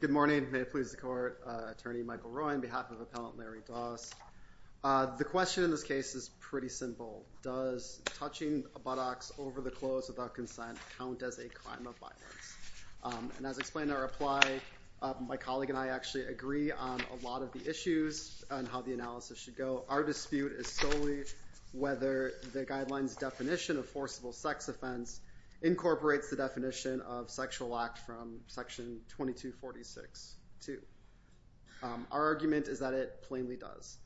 Good morning, may it please the Court, Attorney Michael Roy on behalf of Appellant Larry Doss. The question in this case is pretty simple. Does touching a buttocks over the clothes without consent count as a crime of violence? And as explained in our reply, my colleague and I actually agree on a lot of the issues and how the analysis should go. Our dispute is solely whether the guidelines definition of forcible sex offense incorporates the definition of sexual act from section 2246-2. Our argument is that it plainly does.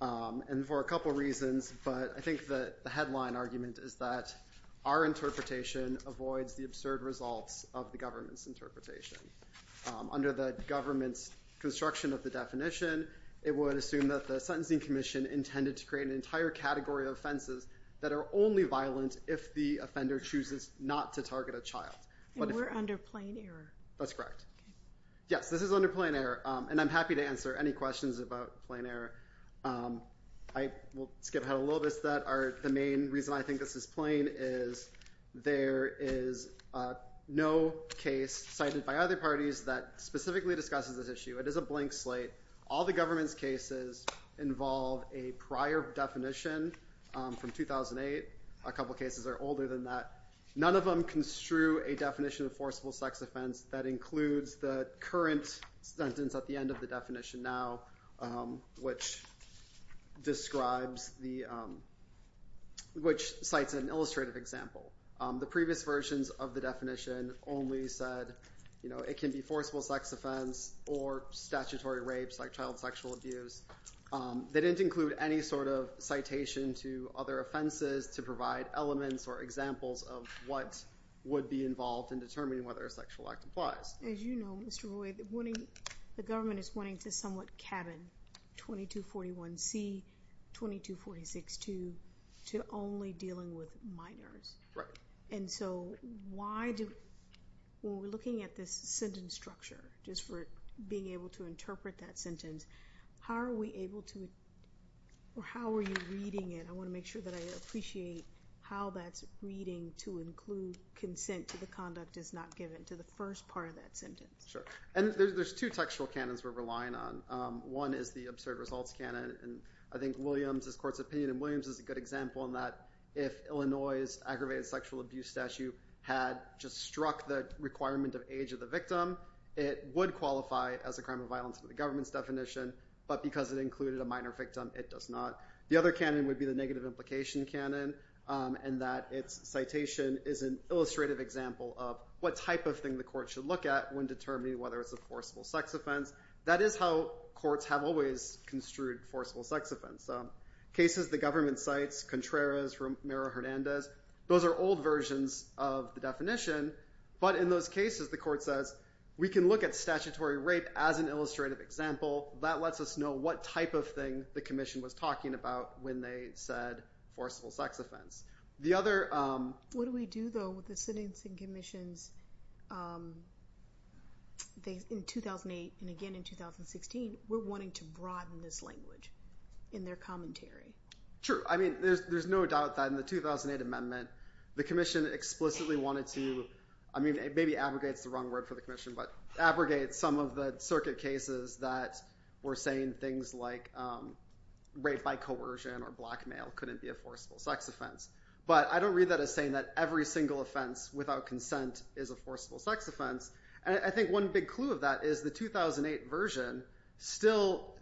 And for a couple reasons, but I think that the headline argument is that our interpretation avoids the absurd results of the government's interpretation. Under the government's construction of the definition, it would assume that the Sentencing Commission intended to create an entire category of offenses that are only violent if the offender chooses not to target a child. And we're under plain error. That's correct. Yes, this is under plain error. And I'm happy to answer any questions about plain error. I will skip ahead a little bit. The main reason I think this is plain is there is no case cited by other parties that specifically discusses this issue. It is a blank slate. All the government's cases involve a prior definition from 2008. A couple of cases are older than that. None of them construe a definition of forcible sex offense that includes the current sentence at the end of the definition now, which cites an illustrative example. The previous versions of the definition only said it can be forcible sex offense or statutory rapes like child sexual abuse. They didn't include any sort of citation to other offenses to provide elements or examples of what would be involved in determining whether a sexual act applies. As you know, Mr. Roy, the government is wanting to somewhat cabin 2241C, 2246 to only dealing with minors. Right. And so why do, when we're looking at this sentence structure, just for being able to interpret that sentence, how are we able to, or how are you reading it? I want to make sure that I appreciate how that's reading to include consent to the conduct is not given to the first part of that sentence. Sure. And there's two textual canons we're relying on. One is the absurd results canon. And I think Williams's court's opinion, and Williams is a good example on that, if Illinois's aggravated sexual abuse statute had just struck the requirement of age of the victim, it would qualify as a crime of violence under the government's definition. But because it included a minor victim, it does not. The other canon would be the negative implication canon, and that its citation is an illustrative example of what type of thing the court should look at when determining whether it's a forcible sex offense. That is how courts have always construed forcible sex offense. Cases the government cites, Contreras, Romero-Hernandez, those are old versions of the definition. But in those cases, the court says, we can look at statutory rape as an illustrative example. That lets us know what type of thing the commission was talking about when they said forcible sex offense. What do we do, though, with the sentencing commissions in 2008 and again in 2016? We're wanting to broaden this language in their commentary. Sure. I mean, there's no doubt that in the 2008 amendment, the commission explicitly wanted to, I mean, maybe abrogate is the wrong word for the commission, but abrogate some of the circuit cases that were saying things like rape by coercion or blackmail couldn't be a forcible sex offense. But I don't read that as saying that every single offense without consent is a forcible sex offense. And I think one big clue of that is the 2008 version still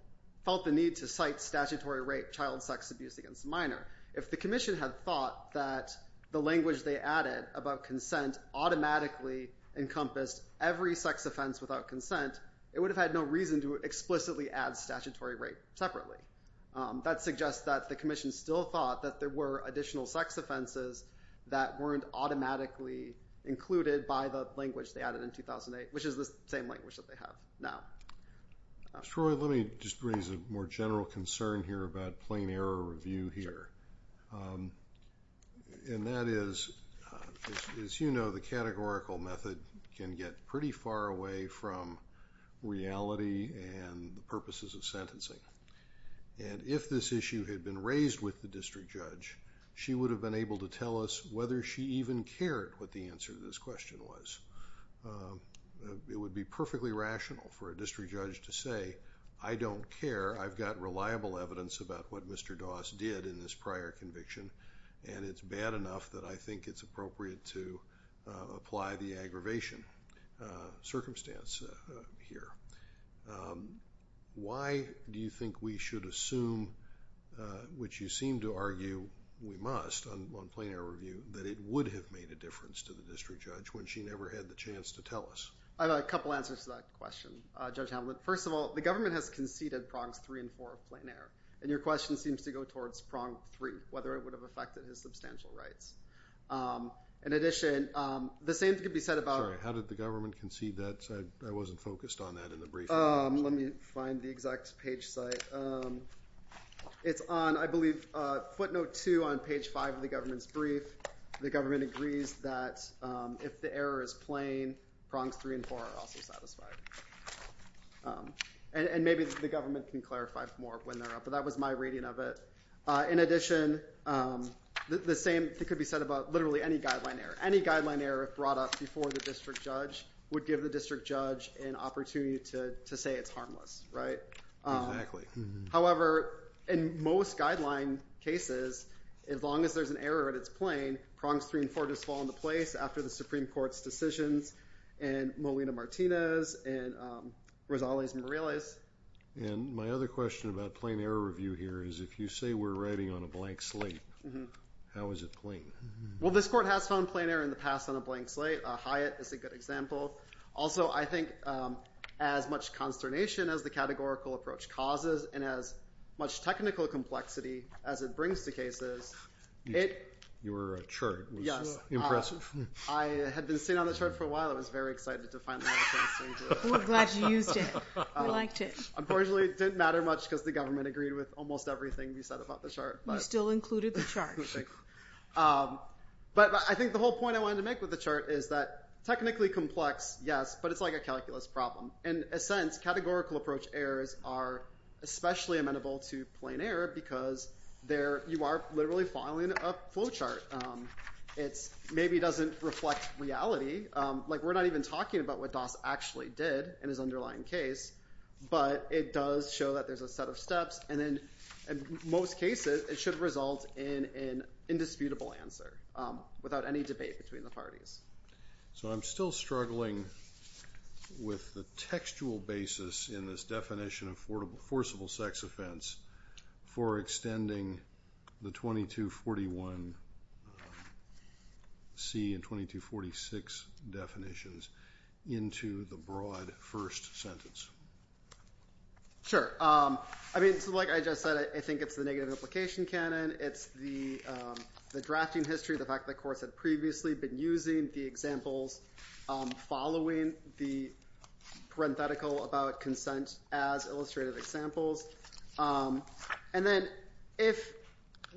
felt the need to cite statutory rape, child sex abuse against a minor. If the commission had thought that the language they added about consent automatically encompassed every sex offense without consent, it would have had no reason to explicitly add statutory rape separately. That suggests that the commission still thought that there were additional sex offenses that weren't automatically included by the language they added in 2008, which is the same language that they have now. Troy, let me just raise a more general concern here about plain error review here. And that is, as you know, the categorical method can get pretty far away from reality and the purposes of sentencing. And if this issue had been raised with the district judge, she would have been able to tell us whether she even cared what the answer to this question was. It would be perfectly rational for a district judge to say, I don't care. I've got reliable evidence about what Mr. Doss did in this prior conviction, and it's bad enough that I think it's appropriate to apply the aggravation circumstance here. Why do you think we should assume, which you seem to argue we must on plain error review, that it would have made a difference to the district judge when she never had the chance to tell us? I've got a couple answers to that question, Judge Hamlet. First of all, the government has conceded prongs three and four of plain error. And your question seems to go towards prong three, whether it would have affected his substantial rights. In addition, the same could be said about... Sorry, how did the government concede that? I wasn't focused on that in the briefing. Let me find the exact page site. It's on, I believe, footnote two on page five of the government's brief. The government agrees that if the error is plain, prongs three and four are also satisfied. And maybe the government can clarify more when they're up. But that was my reading of it. In addition, the same could be said about literally any guideline error. Any guideline error, if brought up before the district judge, would give the district judge an opportunity to say it's harmless, right? Exactly. However, in most guideline cases, as long as there's an error and it's plain, prongs three and four just fall into place after the Supreme Court's decisions and Molina-Martinez and Rosales-Morales. And my other question about plain error review here is, if you say we're writing on a blank slate, how is it plain? Well, this court has found plain error in the past on a blank slate. Hyatt is a good example. Also, I think as much consternation as the categorical approach causes, and as much technical complexity as it brings to cases, it- Your chart was impressive. I had been sitting on the chart for a while. I was very excited to finally have a chance to read it. We're glad you used it. We liked it. Unfortunately, it didn't matter much because the government agreed with almost everything we said about the chart. You still included the chart. But I think the whole point I wanted to make with the chart is that technically complex, yes, but it's like a calculus problem. In a sense, categorical approach errors are especially amenable to plain error because you are literally filing a flowchart. It maybe doesn't reflect reality. We're not even talking about what Doss actually did in his underlying case, but it does show that there's a set of steps. In most cases, it should result in an indisputable answer without any debate between the parties. So I'm still struggling with the textual basis in this definition of forcible sex offense for extending the 2241C and 2246 definitions into the broad first sentence. Sure. I mean, like I just said, I think it's the negative implication canon. It's the drafting history, the fact that courts had previously been using the examples following the parenthetical about consent as illustrative examples. And then if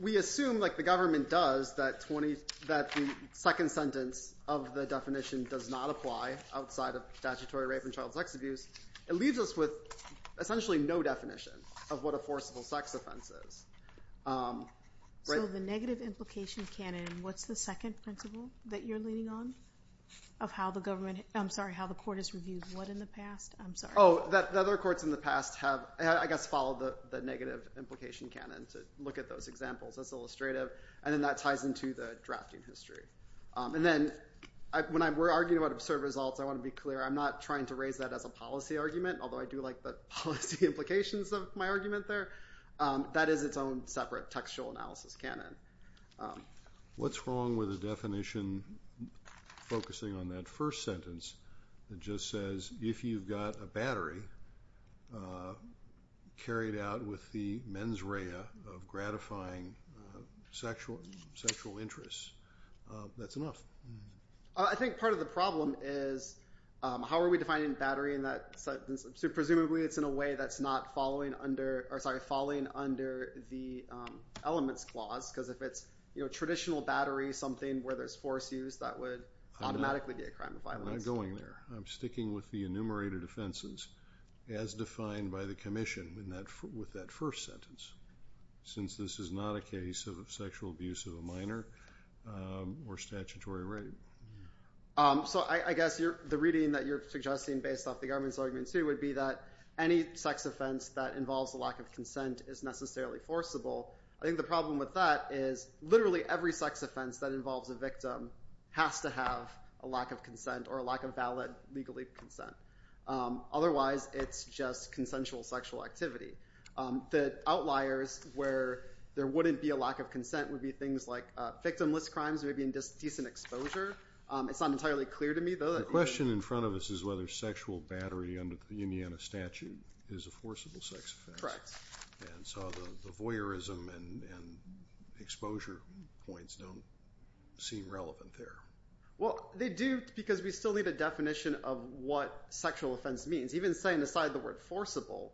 we assume, like the government does, that the second sentence of the definition does not apply outside of statutory rape and child sex abuse, it leaves us with essentially no definition of what a forcible sex offense is. So the negative implication canon, what's the second principle that you're leaning on of how the government, I'm sorry, how the court has reviewed what in the past? Oh, the other courts in the past have, I guess, followed the negative implication canon to look at those examples as illustrative, and then that ties into the drafting history. And then when we're arguing about absurd results, I want to be clear, I'm not trying to raise that as a policy argument, although I do like the policy implications of my argument there. That is its own separate textual analysis canon. What's wrong with a definition focusing on that first sentence that just says, if you've got a battery carried out with the mens rea of gratifying sexual interests, that's enough? I think part of the problem is, how are we defining battery in that sentence? Presumably it's in a way that's not following under, or sorry, following under the elements clause, because if it's traditional battery, something where there's force use, that would automatically be a crime of violence. I'm going there. I'm sticking with the enumerated offenses as defined by the commission with that first sentence. Since this is not a case of sexual abuse of a minor or statutory rape. So I guess the reading that you're suggesting based off the government's argument too would be that any sex offense that involves a lack of consent is necessarily forcible. I think the problem with that is literally every sex offense that involves a victim has to have a lack of consent or a lack of valid legal consent. Otherwise, it's just consensual sexual activity. The outliers where there wouldn't be a lack of consent would be things like victimless crimes, maybe in decent exposure. It's not entirely clear to me, though. The question in front of us is whether sexual battery under the Indiana statute is a forcible sex offense. Correct. And so the voyeurism and exposure points don't seem relevant there. Well, they do, because we still need a definition of what sexual offense means. Even setting aside the word forcible,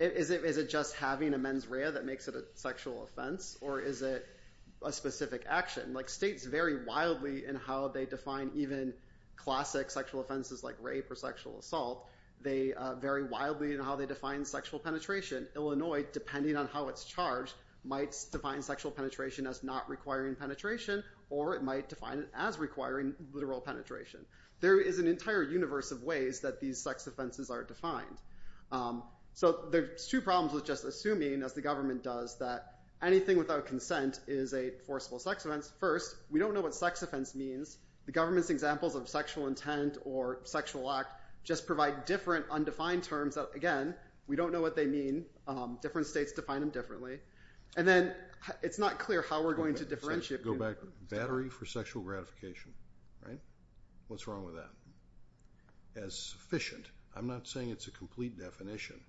is it just having a mens rea that makes it a sexual offense, or is it a specific action? States vary wildly in how they define even classic sexual offenses like rape or sexual assault. They vary wildly in how they define sexual penetration. Illinois, depending on how it's charged, might define sexual penetration as not requiring penetration, or it might define it as requiring literal penetration. There is an entire universe of ways that these sex offenses are defined. So there's two problems with just assuming, as the government does, that anything without consent is a forcible sex offense. First, we don't know what sex offense means. The government's examples of sexual intent or sexual act just provide different undefined terms. Again, we don't know what they mean. Different states define them differently. And then it's not clear how we're going to differentiate. Go back. Battery for sexual gratification. Right? What's wrong with that? As sufficient. I'm not saying it's a complete definition,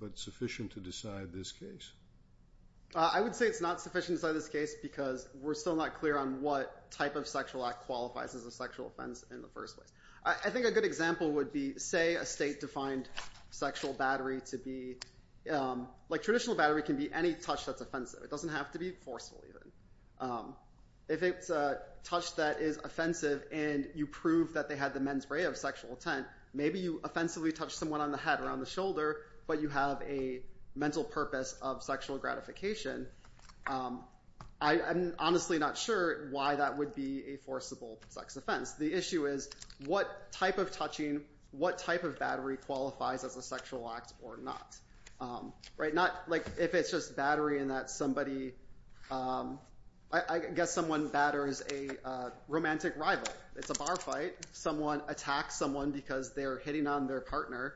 but sufficient to decide this case? I would say it's not sufficient to decide this case because we're still not clear on what type of sexual act qualifies as a sexual offense in the first place. I think a good example would be, say, a state-defined sexual battery to be... Like, traditional battery can be any touch that's offensive. It doesn't have to be forceful, even. If it's a touch that is offensive and you prove that they had the men's right of sexual intent, maybe you offensively touch someone on the head or on the shoulder, but you have a mental purpose of sexual gratification. I'm honestly not sure why that would be a forcible sex offense. The issue is what type of touching, what type of battery qualifies as a sexual act or not. Right? Not, like, if it's just battery in that somebody... I guess someone batters a romantic rival. It's a bar fight. Someone attacks someone because they're hitting on their partner.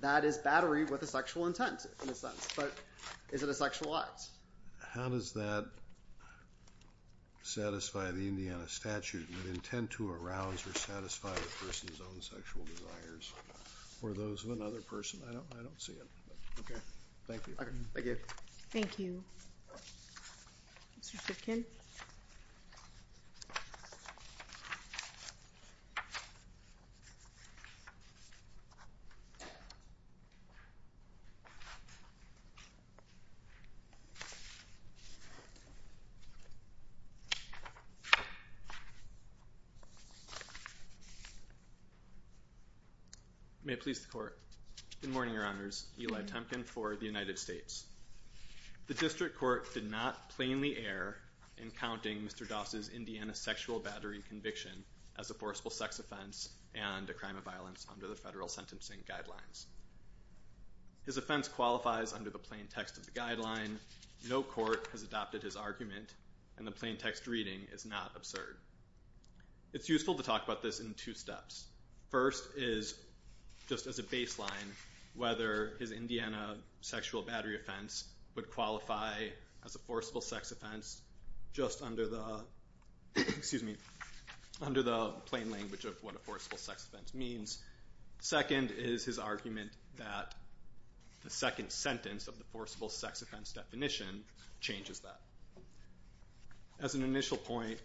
That is battery with a sexual intent, in a sense. But is it a sexual act? How does that satisfy the Indiana statute? Would intent to arouse or satisfy the person's own sexual desires or those of another person? I don't see it. Okay. Thank you. Thank you. May it please the court. Good morning, Your Honors. Eli Temkin for the United States. The district court did not plainly err in counting Mr. Doss's Indiana sexual battery conviction as a forcible sex offense and a crime of violence under the federal sentencing guidelines. His offense qualifies under the plain text of the guideline. No court has adopted his argument and the plain text reading is not absurd. It's useful to talk about this in two steps. First is, just as a baseline, whether his Indiana sexual battery offense would qualify as a forcible sex offense just under the plain language of what a forcible sex offense means. Second is his argument that the second sentence of the forcible sex offense definition changes that. As an initial point,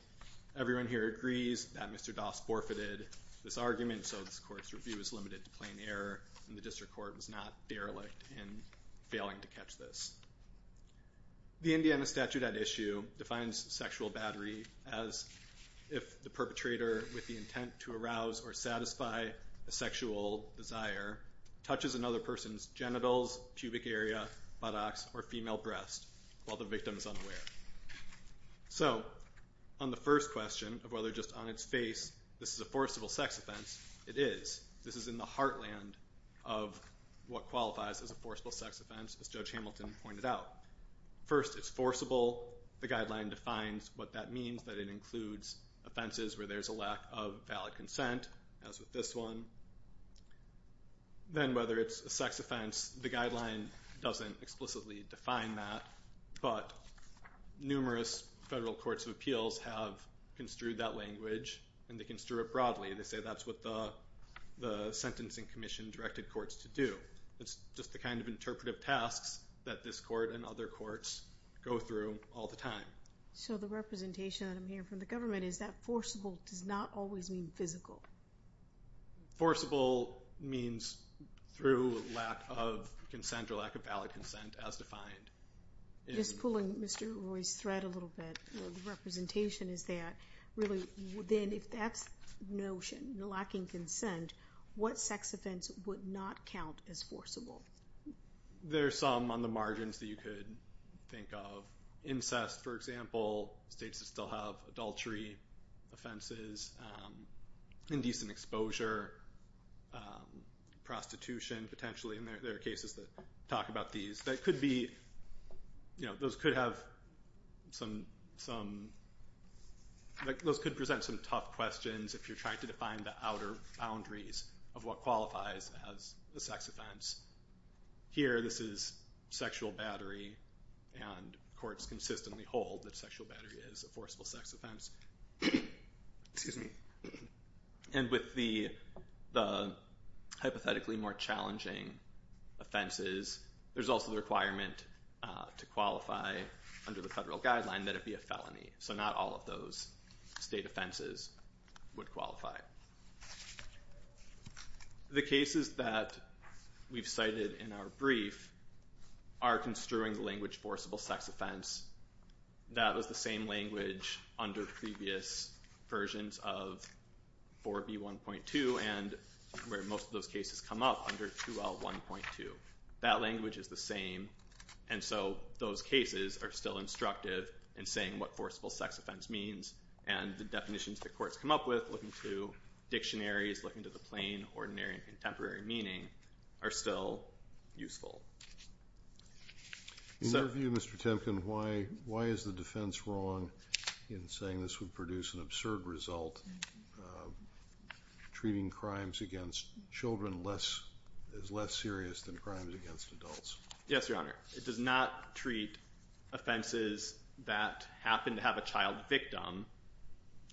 everyone here agrees that Mr. Doss forfeited this argument, so this court's review is limited to plain error and the district court was not derelict in failing to catch this. The Indiana statute at issue defines sexual battery as if the perpetrator, with the intent to arouse or satisfy a sexual desire, touches another person's genitals, pubic area, buttocks, or female breast while the victim is unaware. So, on the first question of whether just on its face this is a forcible sex offense, it is. This is in the heartland of what qualifies as a forcible sex offense, as Judge Hamilton pointed out. First, it's forcible. The guideline defines what that means, that it includes offenses where there's a lack of valid consent, as with this one. Then whether it's a sex offense, the guideline doesn't explicitly define that, but numerous federal courts of appeals have construed that language, and they construe it broadly. They say that's what the Sentencing Commission directed courts to do. It's just the kind of interpretive tasks that this court and other courts go through all the time. So, the representation that I'm hearing from the government is that forcible does not always mean physical. Forcible means through lack of consent or lack of valid consent, as defined. Just pulling Mr. Roy's thread a little bit, the representation is that, really, then if that's the notion, lacking consent, what sex offense would not count as forcible? There's some on the margins that you could think of. Incest, for example, states that still have adultery offenses, indecent exposure, prostitution potentially, and there are cases that talk about these. Those could present some tough questions if you're trying to define the outer boundaries of what qualifies as a sex offense. Here, this is sexual battery, and courts consistently hold that sexual battery is a forcible sex offense. Excuse me. And with the hypothetically more challenging offenses, there's also the requirement to qualify under the federal guideline that it be a felony. So, not all of those state offenses would qualify. The cases that we've cited in our brief are construing the language forcible sex offense. That was the same language under previous versions of 4B1.2 and where most of those cases come up under 2L1.2. That language is the same, and so those cases are still instructive in saying what forcible sex offense means, and the definitions that courts come up with, looking to dictionaries, looking to the plain, ordinary, and contemporary meaning, are still useful. In your view, Mr. Temkin, why is the defense wrong in saying this would produce an absurd result, treating crimes against children as less serious than crimes against adults? Yes, Your Honor. It does not treat offenses that happen to have a child victim,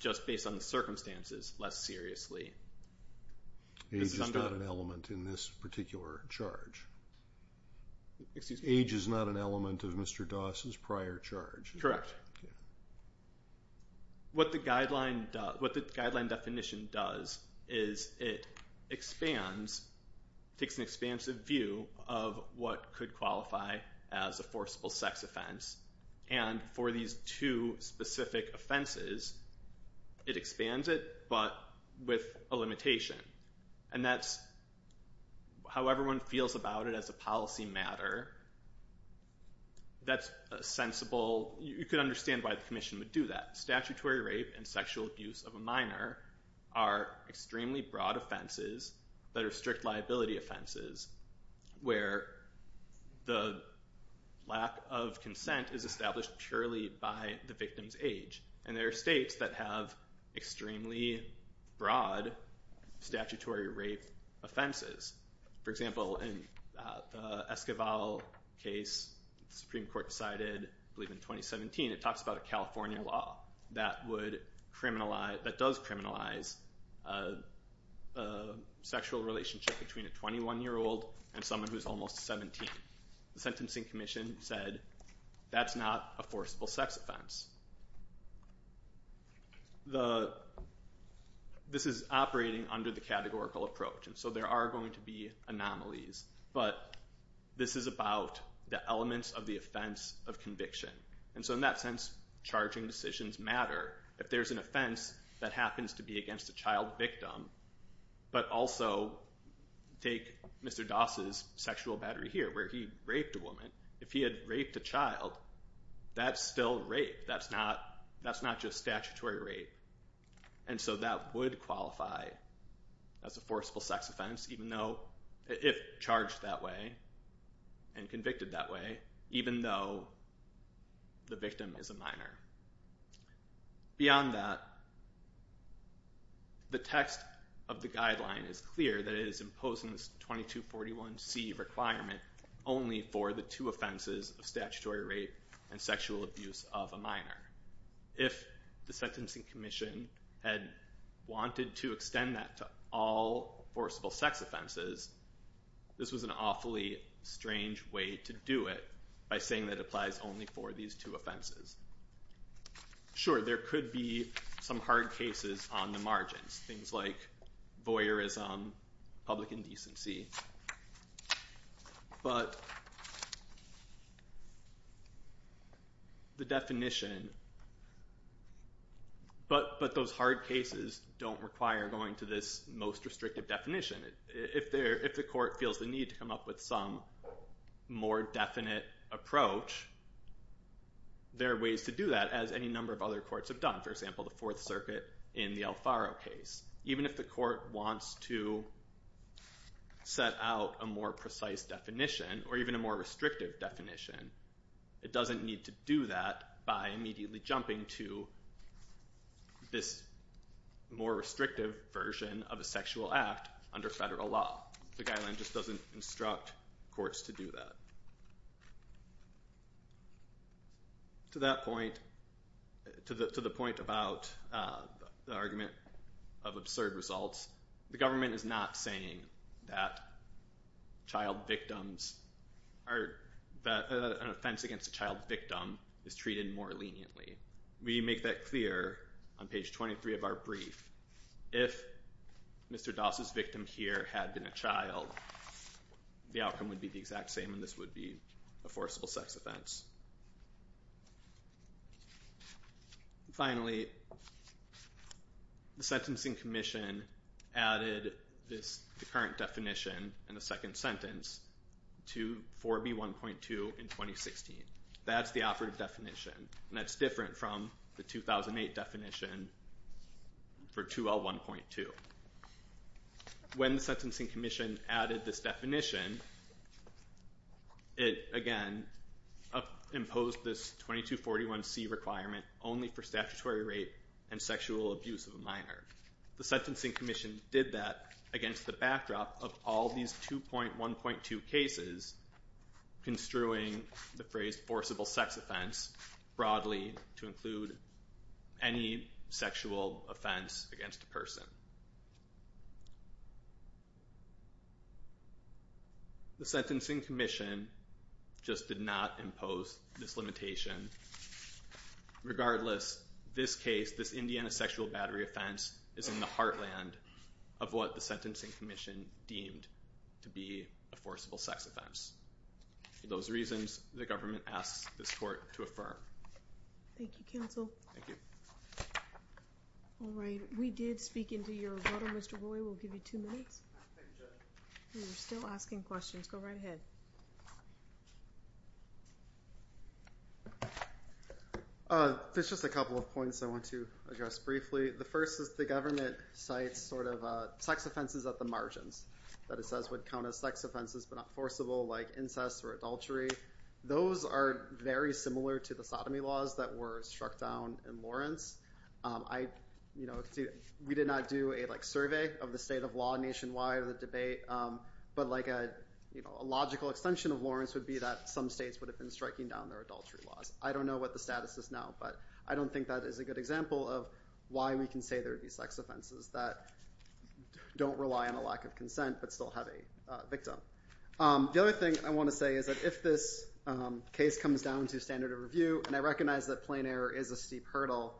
just based on the circumstances, less seriously. Age is not an element in this particular charge. Excuse me? Age is not an element of Mr. Doss's prior charge. Correct. What the guideline definition does is it expands, takes an expansive view of what could qualify as a forcible sex offense, and for these two specific offenses, it expands it, but with a limitation, and that's how everyone feels about it as a policy matter. That's a sensible, you could understand why the commission would do that. Statutory rape and sexual abuse of a minor are extremely broad offenses that are strict liability offenses, where the lack of consent is established purely by the victim's age, and there are states that have extremely broad statutory rape offenses. For example, in the Esquivel case, the Supreme Court decided, I believe in 2017, it talks about a California law that would criminalize, that does criminalize a sexual relationship between a 21-year-old and someone who's almost 17. The Sentencing Commission said that's not a forcible sex offense. This is operating under the categorical approach, and so there are going to be anomalies, but this is about the elements of the offense of conviction, and so in that sense, charging decisions matter. If there's an offense that happens to be against a child victim, but also take Mr. Doss's sexual battery here, where he raped a woman, if he had raped a child, that's still rape. That's not just statutory rape, and so that would qualify as a forcible sex offense, even though, if charged that way and convicted that way, even though the victim is a minor. Beyond that, the text of the guideline is clear that it is imposing this 2241C requirement only for the two offenses of statutory rape and sexual abuse of a minor. If the Sentencing Commission had wanted to extend that to all forcible sex offenses, this was an awfully strange way to do it by saying that it applies only for these two offenses. Sure, there could be some hard cases on the margins, things like voyeurism, public indecency, but the definition, but those hard cases don't require going to this most restrictive definition. If the court feels the need to come up with some more definite approach, there are ways to do that, as any number of other courts have done. For example, the Fourth Circuit in the Alfaro case. Even if the court wants to set out a more precise definition, or even a more restrictive definition, it doesn't need to do that by immediately jumping to this more restrictive version of a sexual act under federal law. The guideline just doesn't instruct courts to do that. So to that point, to the point about the argument of absurd results, the government is not saying that an offense against a child victim is treated more leniently. We make that clear on page 23 of our brief. If Mr. Doss' victim here had been a child, the outcome would be the exact same, and this would be a forcible sex offense. Finally, the Sentencing Commission added the current definition in the second sentence to 4B1.2 in 2016. That's the operative definition, and that's different from the 2008 definition for 2L1.2. When the Sentencing Commission added this definition, it, again, imposed this 2241C requirement only for statutory rape and sexual abuse of a minor. The Sentencing Commission did that against the backdrop of all these 2.1.2 cases, construing the phrase forcible sex offense broadly to include any sexual offense against a person. The Sentencing Commission just did not impose this limitation. Regardless, this case, this Indiana sexual battery offense, is in the heartland of what the Sentencing Commission deemed to be a forcible sex offense. For those reasons, the government asks this court to affirm. Thank you, counsel. Thank you. All right. We did speak into your order. Mr. Roy, we'll give you two minutes. Thank you, Judge. We're still asking questions. Go right ahead. There's just a couple of points I want to address briefly. The first is the government cites sort of sex offenses at the margins that it says would count as sex offenses but not forcible, like incest or adultery. Those are very similar to the sodomy laws that were struck down in Lawrence. We did not do a survey of the state of law nationwide or the debate, but a logical extension of Lawrence would be that some states would have been striking down their adultery laws. I don't know what the status is now, but I don't think that is a good example of why we can say there would be sex offenses that don't rely on a lack of consent but still have a victim. The other thing I want to say is that if this case comes down to standard of review, and I recognize that plain error is a steep hurdle,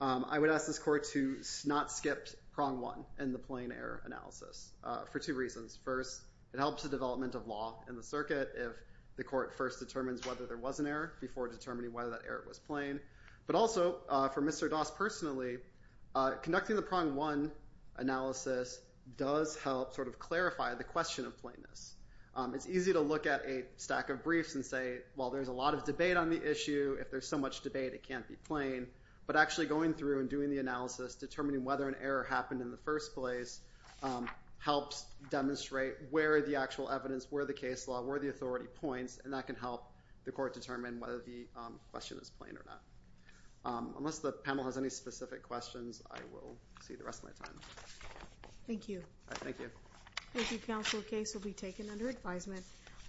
I would ask this court to not skip prong one in the plain error analysis for two reasons. First, it helps the development of law in the circuit if the court first determines whether there was an error before determining whether that error was plain. But also, for Mr. Doss personally, conducting the prong one analysis does help sort of clarify the question of plainness. It's easy to look at a stack of briefs and say, well, there's a lot of debate on the If there's so much debate, it can't be plain. But actually going through and doing the analysis, determining whether an error happened in the first place, helps demonstrate where the actual evidence, where the case law, where the authority points, and that can help the court determine whether the question is plain or not. Unless the panel has any specific questions, I will see the rest of my time. Thank you. Thank you. Thank you, Counsel. The case will be taken under advisement. We